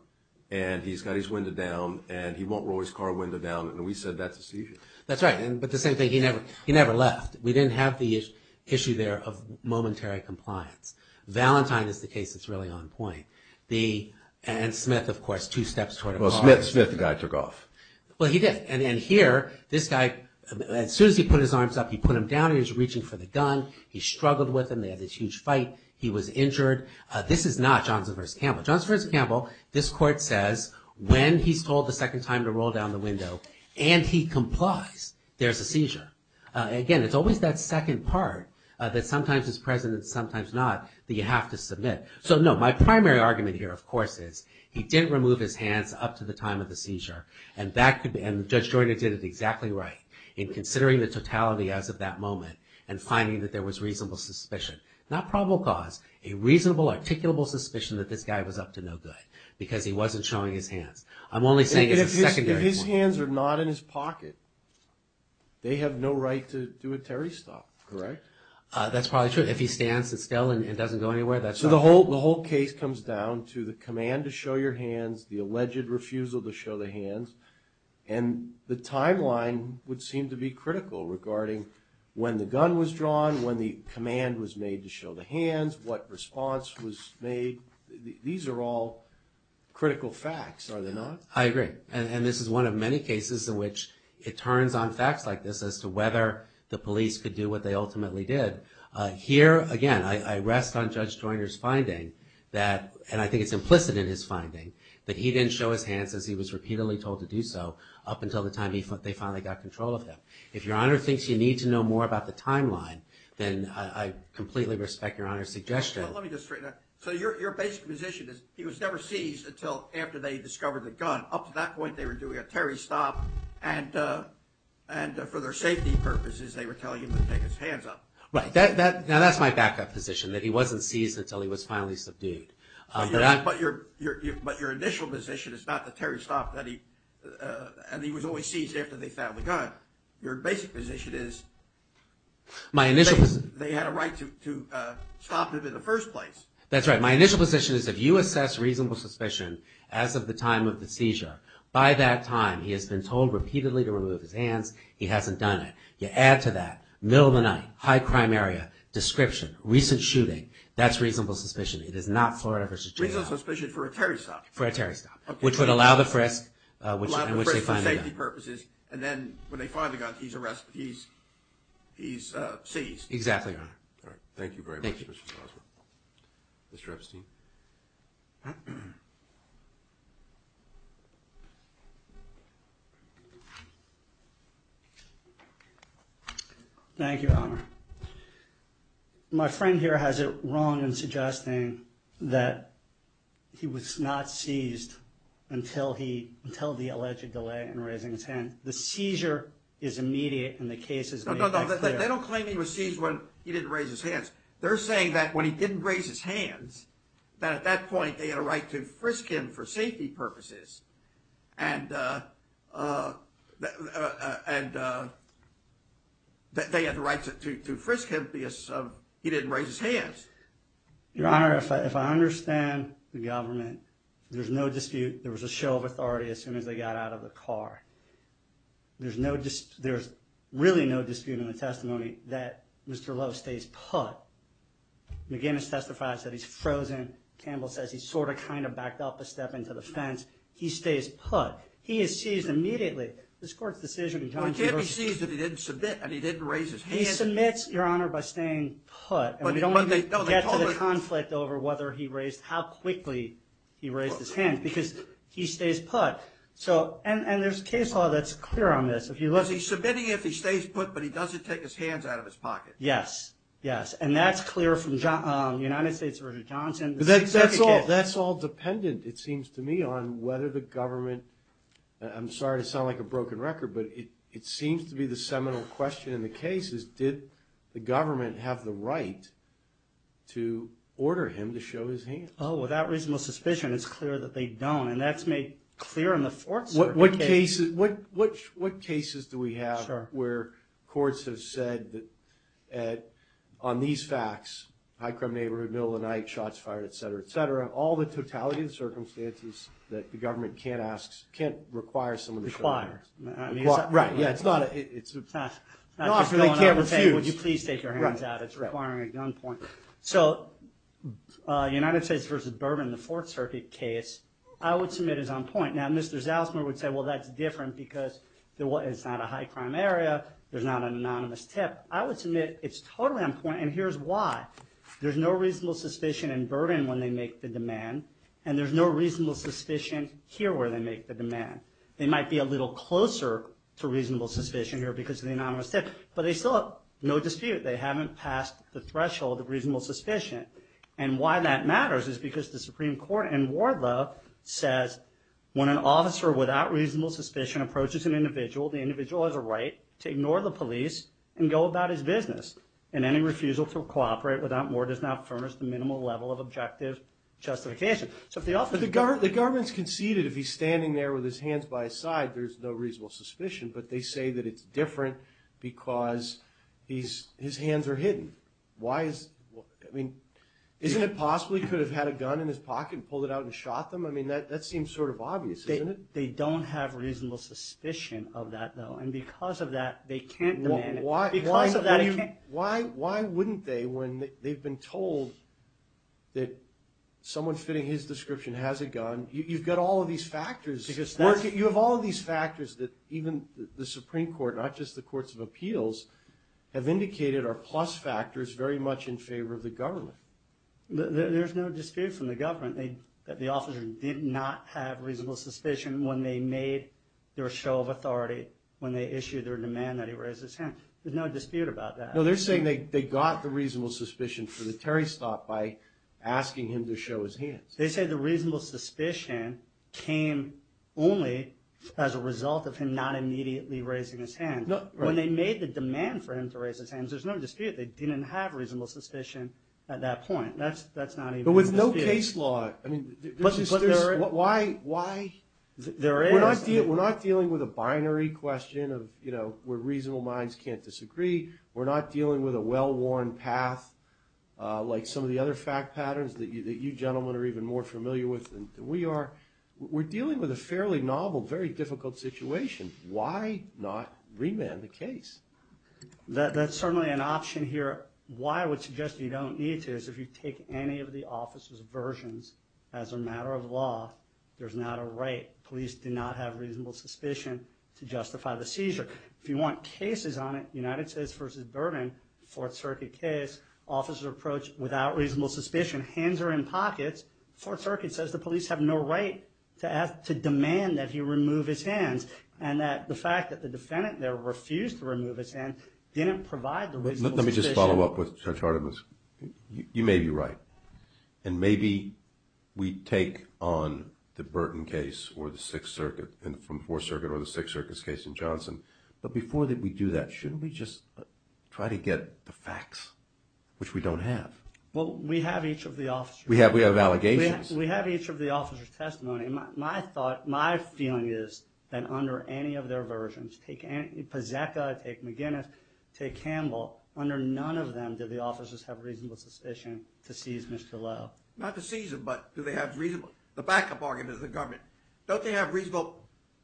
and he's got his window down, and he won't roll his car window down, and we said that's a seizure? That's right, but the same thing. He never left. We didn't have the issue there of momentary compliance. Valentine is the case that's really on point. And Smith, of course, two steps toward a car. Well, Smith, the guy took off. Well, he did. And here, this guy, as soon as he put his arms up, he put them down. He was reaching for the gun. He struggled with him. They had this huge fight. He was injured. This is not Johnson v. Campbell. Johnson v. Campbell, this court says when he's told the second time to roll down the window, and he complies, there's a seizure. Again, it's always that second part that sometimes is present and sometimes not that you have to submit. So, no, my primary argument here, of course, is he didn't remove his hands up to the time of the seizure, and Judge Joyner did it exactly right in considering the totality as of that moment and finding that there was reasonable suspicion. Not probable cause, a reasonable, articulable suspicion that this guy was up to no good because he wasn't showing his hands. I'm only saying as a secondary point. If his hands are not in his pocket, they have no right to do a Terry stop, correct? That's probably true. If he stands still and doesn't go anywhere, that's not true. So the whole case comes down to the command to show your hands, the alleged refusal to show the hands, and the timeline would seem to be critical regarding when the gun was drawn, when the command was made to show the hands, what response was made. These are all critical facts, are they not? I agree. And this is one of many cases in which it turns on facts like this as to whether the police could do what they ultimately did. Here, again, I rest on Judge Joyner's finding that, and I think it's implicit in his finding, that he didn't show his hands as he was repeatedly told to do so up until the time they finally got control of him. If Your Honor thinks you need to know more about the timeline, then I completely respect Your Honor's suggestion. Let me just straighten that. So your basic position is he was never seized until after they discovered the gun. Up to that point, they were doing a Terry stop, and for their safety purposes, they were telling him to take his hands off. Right. Now, that's my backup position, that he wasn't seized until he was finally subdued. But your initial position is not the Terry stop, and he was always seized after they found the gun. Your basic position is they had a right to stop him in the first place. That's right. My initial position is if you assess reasonable suspicion as of the time of the seizure, by that time he has been told repeatedly to remove his hands, he hasn't done it. You add to that, middle of the night, high crime area, description, recent shooting, that's reasonable suspicion. It is not Florida v. J.I. Reasonable suspicion for a Terry stop. For a Terry stop, which would allow the frisk, which they finally got. Allow the frisk for safety purposes, and then when they finally got it, he's seized. Exactly, Your Honor. All right. Thank you very much, Mr. Strasburg. Thank you. Mr. Epstein. Thank you, Your Honor. My friend here has it wrong in suggesting that he was not seized until the alleged delay in raising his hands. No, no. They don't claim he was seized when he didn't raise his hands. They're saying that when he didn't raise his hands, that at that point they had a right to frisk him for safety purposes, and that they had the right to frisk him because he didn't raise his hands. Your Honor, if I understand the government, there's no dispute there was a show of authority as soon as they got out of the car. There's really no dispute in the testimony that Mr. Lowe stays put. McGinnis testifies that he's frozen. Campbell says he's sort of kind of backed up a step into the fence. He stays put. He is seized immediately. This Court's decision in John G. He can't be seized if he didn't submit and he didn't raise his hands. He submits, Your Honor, by staying put, and we don't even get to the conflict over whether he raised, how quickly he raised his hands because he stays put. And there's case law that's clear on this. He's submitting if he stays put, but he doesn't take his hands out of his pocket. Yes, yes, and that's clear from the United States version of Johnson. That's all dependent, it seems to me, on whether the government, I'm sorry to sound like a broken record, but it seems to be the seminal question in the case is did the government have the right to order him to show his hands? Oh, without reasonable suspicion, it's clear that they don't. And that's made clear in the Fourth Circuit case. What cases do we have where courts have said that on these facts, high crime neighborhood, middle of the night, shots fired, et cetera, et cetera, all the totality of the circumstances that the government can't ask, can't require someone to show their hands? Require. Right, yeah, it's not a, it's a. Not that they can't refuse. Not that they can't say, would you please take your hands out? It's requiring a gun point. So, United States versus Burden, the Fourth Circuit case, I would submit is on point. Now, Mr. Zalsmer would say, well, that's different because it's not a high crime area, there's not an anonymous tip. I would submit it's totally on point, and here's why. There's no reasonable suspicion in Burden when they make the demand, and there's no reasonable suspicion here where they make the demand. They might be a little closer to reasonable suspicion here because of the anonymous tip, but they still have no dispute. They haven't passed the threshold of reasonable suspicion, and why that matters is because the Supreme Court in Wardlow says, when an officer without reasonable suspicion approaches an individual, the individual has a right to ignore the police and go about his business, and any refusal to cooperate without more does not furnish the minimal level of objective justification. So, if the officer. But the government's conceded if he's standing there with his hands by his side, there's no reasonable suspicion, but they say that it's different because his hands are hidden. I mean, isn't it possible he could have had a gun in his pocket and pulled it out and shot them? I mean, that seems sort of obvious, isn't it? They don't have reasonable suspicion of that, though, and because of that, they can't demand it. Because of that, he can't. Why wouldn't they when they've been told that someone fitting his description has a gun? You've got all of these factors. Because that's. You have all of these factors that even the Supreme Court, not just the courts of appeals, have indicated are plus factors very much in favor of the government. There's no dispute from the government that the officer did not have reasonable suspicion when they made their show of authority, when they issued their demand that he raise his hand. There's no dispute about that. No, they're saying they got the reasonable suspicion for the Terry stop by asking him to show his hands. They say the reasonable suspicion came only as a result of him not immediately raising his hand. When they made the demand for him to raise his hands, there's no dispute. They didn't have reasonable suspicion at that point. That's not even a dispute. But with no case law. I mean, there's. But there's. Why? Why? There is. We're not dealing with a binary question of, you know, where reasonable minds can't disagree. We're not dealing with a well-worn path like some of the other fact patterns that you gentlemen are even more familiar with than we are. We're dealing with a fairly novel, very difficult situation. Why not remand the case? That's certainly an option here. Why I would suggest you don't need to is if you take any of the officer's versions, as a matter of law, there's not a right. Police do not have reasonable suspicion to justify the seizure. If you want cases on it, United States versus Burden, Fourth Circuit case, officer approach without reasonable suspicion, hands are in pockets. Fourth Circuit says the police have no right to ask, to demand that he remove his hands and that the fact that the defendant there refused to remove his hand didn't provide the reasonable suspicion. Let me just follow up with Judge Hardiman. You may be right. And maybe we take on the Burton case or the Sixth Circuit and from Fourth Circuit or the Sixth Circuit's case in Johnson. But before we do that, shouldn't we just try to get the facts, which we don't have? Well, we have each of the officer's. We have allegations. We have each of the officer's testimony. My feeling is that under any of their versions, take Paseka, take McGinnis, take Campbell, under none of them do the officers have reasonable suspicion to seize Mr. Lowe. Not to seize him, but do they have reasonable, the backup argument is the government. Don't they have reasonable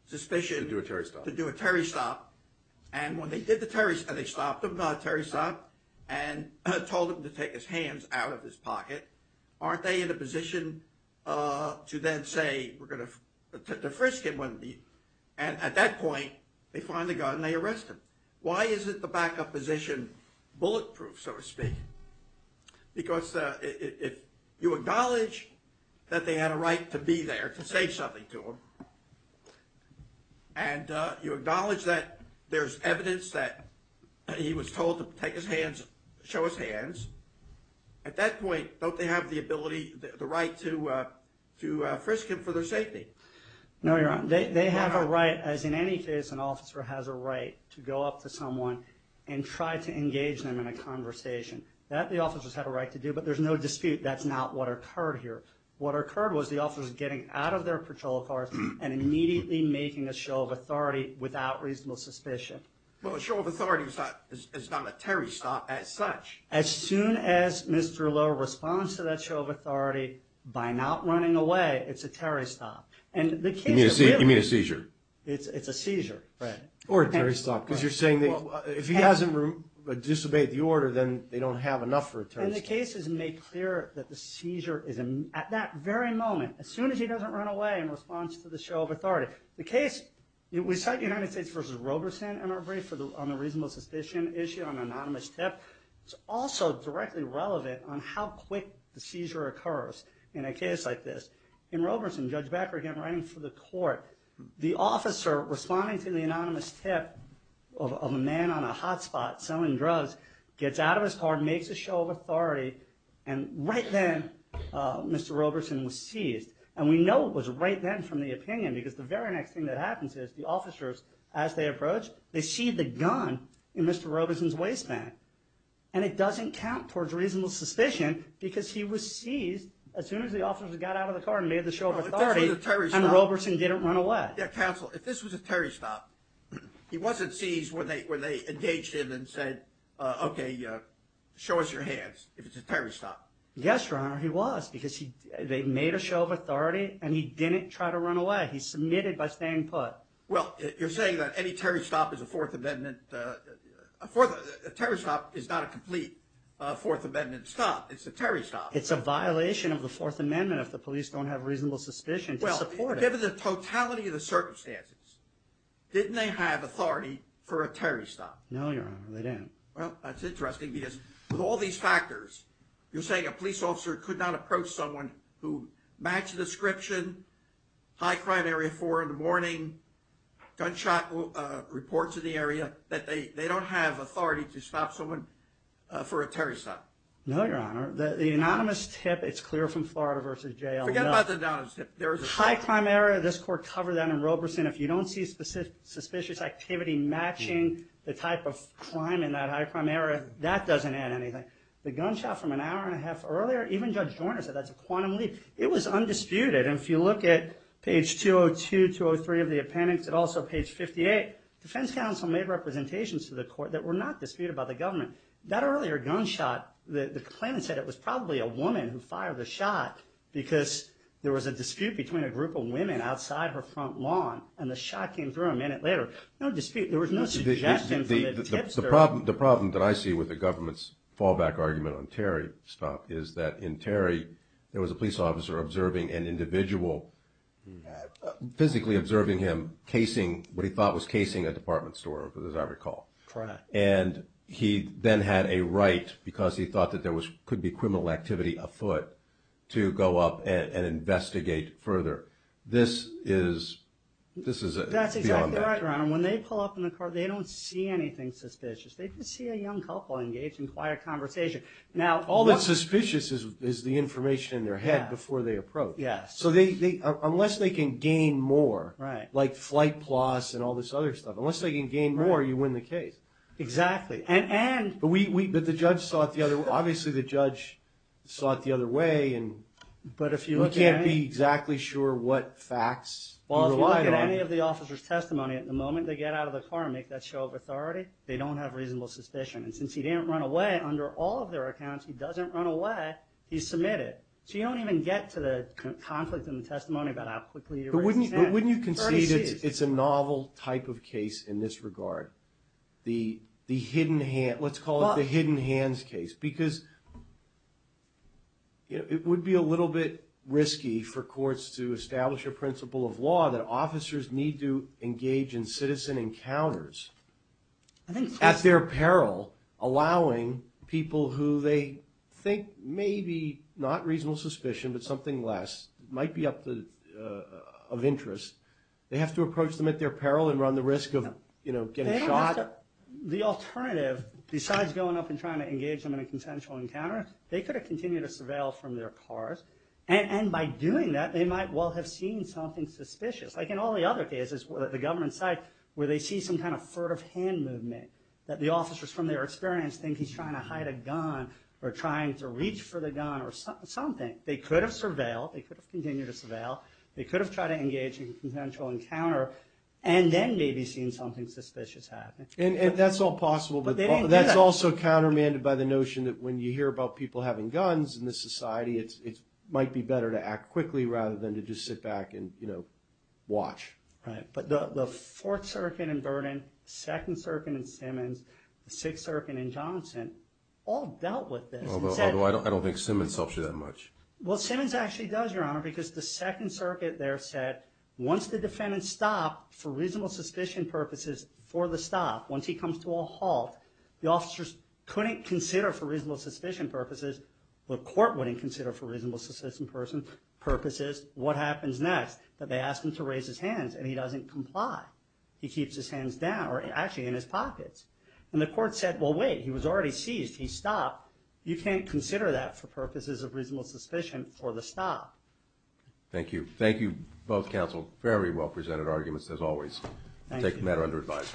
suspicion to do a Terry stop? To do a Terry stop. And when they did the Terry stop, they stopped him, Terry stop, and told him to take his hands out of his pocket. Aren't they in a position to then say, we're going to defrisk him? And at that point, they finally go and they arrest him. Why isn't the backup position bulletproof, so to speak? Because if you acknowledge that they had a right to be there, to say something to him, and you acknowledge that there's evidence that he was told to take his hands, show his hands, at that point, don't they have the ability, the right to frisk him for their safety? No, Your Honor. They have a right, as in any case, an officer has a right to go up to someone and try to arrest them. That the officers have a right to do, but there's no dispute that's not what occurred here. What occurred was the officers getting out of their patrol cars and immediately making a show of authority without reasonable suspicion. Well, a show of authority is not a Terry stop as such. As soon as Mr. Lowe responds to that show of authority, by not running away, it's a Terry stop. You mean a seizure? It's a seizure, Fred. Or a Terry stop, because you're saying that if he hasn't disobeyed the order, then they don't have enough for a Terry stop. And the case is made clear that the seizure is, at that very moment, as soon as he doesn't run away in response to the show of authority. The case, we cite United States v. Roberson in our brief on the reasonable suspicion issue on an anonymous tip. It's also directly relevant on how quick the seizure occurs in a case like this. In Roberson, Judge Becker again, writing for the court, the officer responding to the anonymous tip of a man on a hotspot selling drugs, gets out of his car, makes a show of authority, and right then, Mr. Roberson was seized. And we know it was right then from the opinion, because the very next thing that happens is the officers, as they approach, they see the gun in Mr. Roberson's waistband. And it doesn't count towards reasonable suspicion, because he was seized as soon as the officers got out of the car and made the show of authority, and Roberson didn't run away. Counsel, if this was a Terry stop, he wasn't seized when they engaged him and said, okay, show us your hands if it's a Terry stop. Yes, Your Honor, he was, because they made a show of authority, and he didn't try to run away. He submitted by staying put. Well, you're saying that any Terry stop is a Fourth Amendment, a Terry stop is not a complete Fourth Amendment stop. It's a Terry stop. It's a violation of the Fourth Amendment if the police don't have reasonable suspicion to support it. Given the totality of the circumstances, didn't they have authority for a Terry stop? No, Your Honor, they didn't. Well, that's interesting, because with all these factors, you're saying a police officer could not approach someone who matched the description, high crime area, 4 in the morning, gunshot reports in the area, that they don't have authority to stop someone for a Terry stop. No, Your Honor. The anonymous tip, it's clear from Florida v. J.L. Forget about the anonymous tip. High crime area, this Court covered that in Roberson. If you don't see suspicious activity matching the type of crime in that high crime area, that doesn't add anything. The gunshot from an hour and a half earlier, even Judge Joyner said that's a quantum leap. It was undisputed, and if you look at page 202, 203 of the appendix, and also page 58, defense counsel made representations to the Court that were not disputed by the government. That earlier gunshot, the complainant said it was probably a woman who fired the shot, because there was a dispute between a group of women outside her front lawn, and the shot came through a minute later. No dispute. There was no suggestion from the tipster. The problem that I see with the government's fallback argument on Terry stop is that in Terry, there was a police officer observing an individual, physically observing him, casing what he thought was casing a department store, as I recall. Correct. And he then had a right, because he thought that there could be criminal activity afoot, to go up and investigate further. This is beyond that. That's exactly right, Your Honor. When they pull up in the car, they don't see anything suspicious. They just see a young couple engaged in quiet conversation. All that's suspicious is the information in their head before they approach. Yes. So unless they can gain more, like flight plots and all this other stuff, unless they can gain more, you win the case. Exactly. But the judge saw it the other way. Obviously, the judge saw it the other way, and you can't be exactly sure what facts you relied on. Well, if you look at any of the officer's testimony, at the moment they get out of the car and make that show of authority, they don't have reasonable suspicion. And since he didn't run away, under all of their accounts, he doesn't run away, he's submitted. But wouldn't you concede it's a novel type of case in this regard? The hidden hand, let's call it the hidden hands case, because it would be a little bit risky for courts to establish a principle of law that officers need to engage in citizen encounters at their peril, allowing people who they think may be not reasonable suspicion, but something less, might be of interest. They have to approach them at their peril and run the risk of getting shot. The alternative, besides going up and trying to engage them in a consensual encounter, they could have continued to surveil from their cars, and by doing that they might well have seen something suspicious. Like in all the other cases, the government side, where they see some kind of furtive hand movement, that the officers from their experience think he's trying to hide a gun or trying to reach for the gun or something. They could have surveilled, they could have continued to surveil, they could have tried to engage in a consensual encounter, and then maybe seen something suspicious happen. And that's all possible, but that's also countermanded by the notion that when you hear about people having guns in this society, it might be better to act quickly rather than to just sit back and watch. Right, but the Fourth Circuit in Vernon, the Second Circuit in Simmons, the Sixth Circuit in Johnson, all dealt with this. Although I don't think Simmons helps you that much. Well, Simmons actually does, Your Honor, because the Second Circuit there said once the defendant stopped for reasonable suspicion purposes for the stop, once he comes to a halt, the officers couldn't consider for reasonable suspicion purposes, the court wouldn't consider for reasonable suspicion purposes, what happens next, that they ask him to raise his hands, and he doesn't comply. He keeps his hands down, or actually in his pockets. And the court said, well wait, he was already seized, he stopped. You can't consider that for purposes of reasonable suspicion for the stop. Thank you. Thank you both counsel. Very well presented arguments as always. Thank you. Take the matter under advice.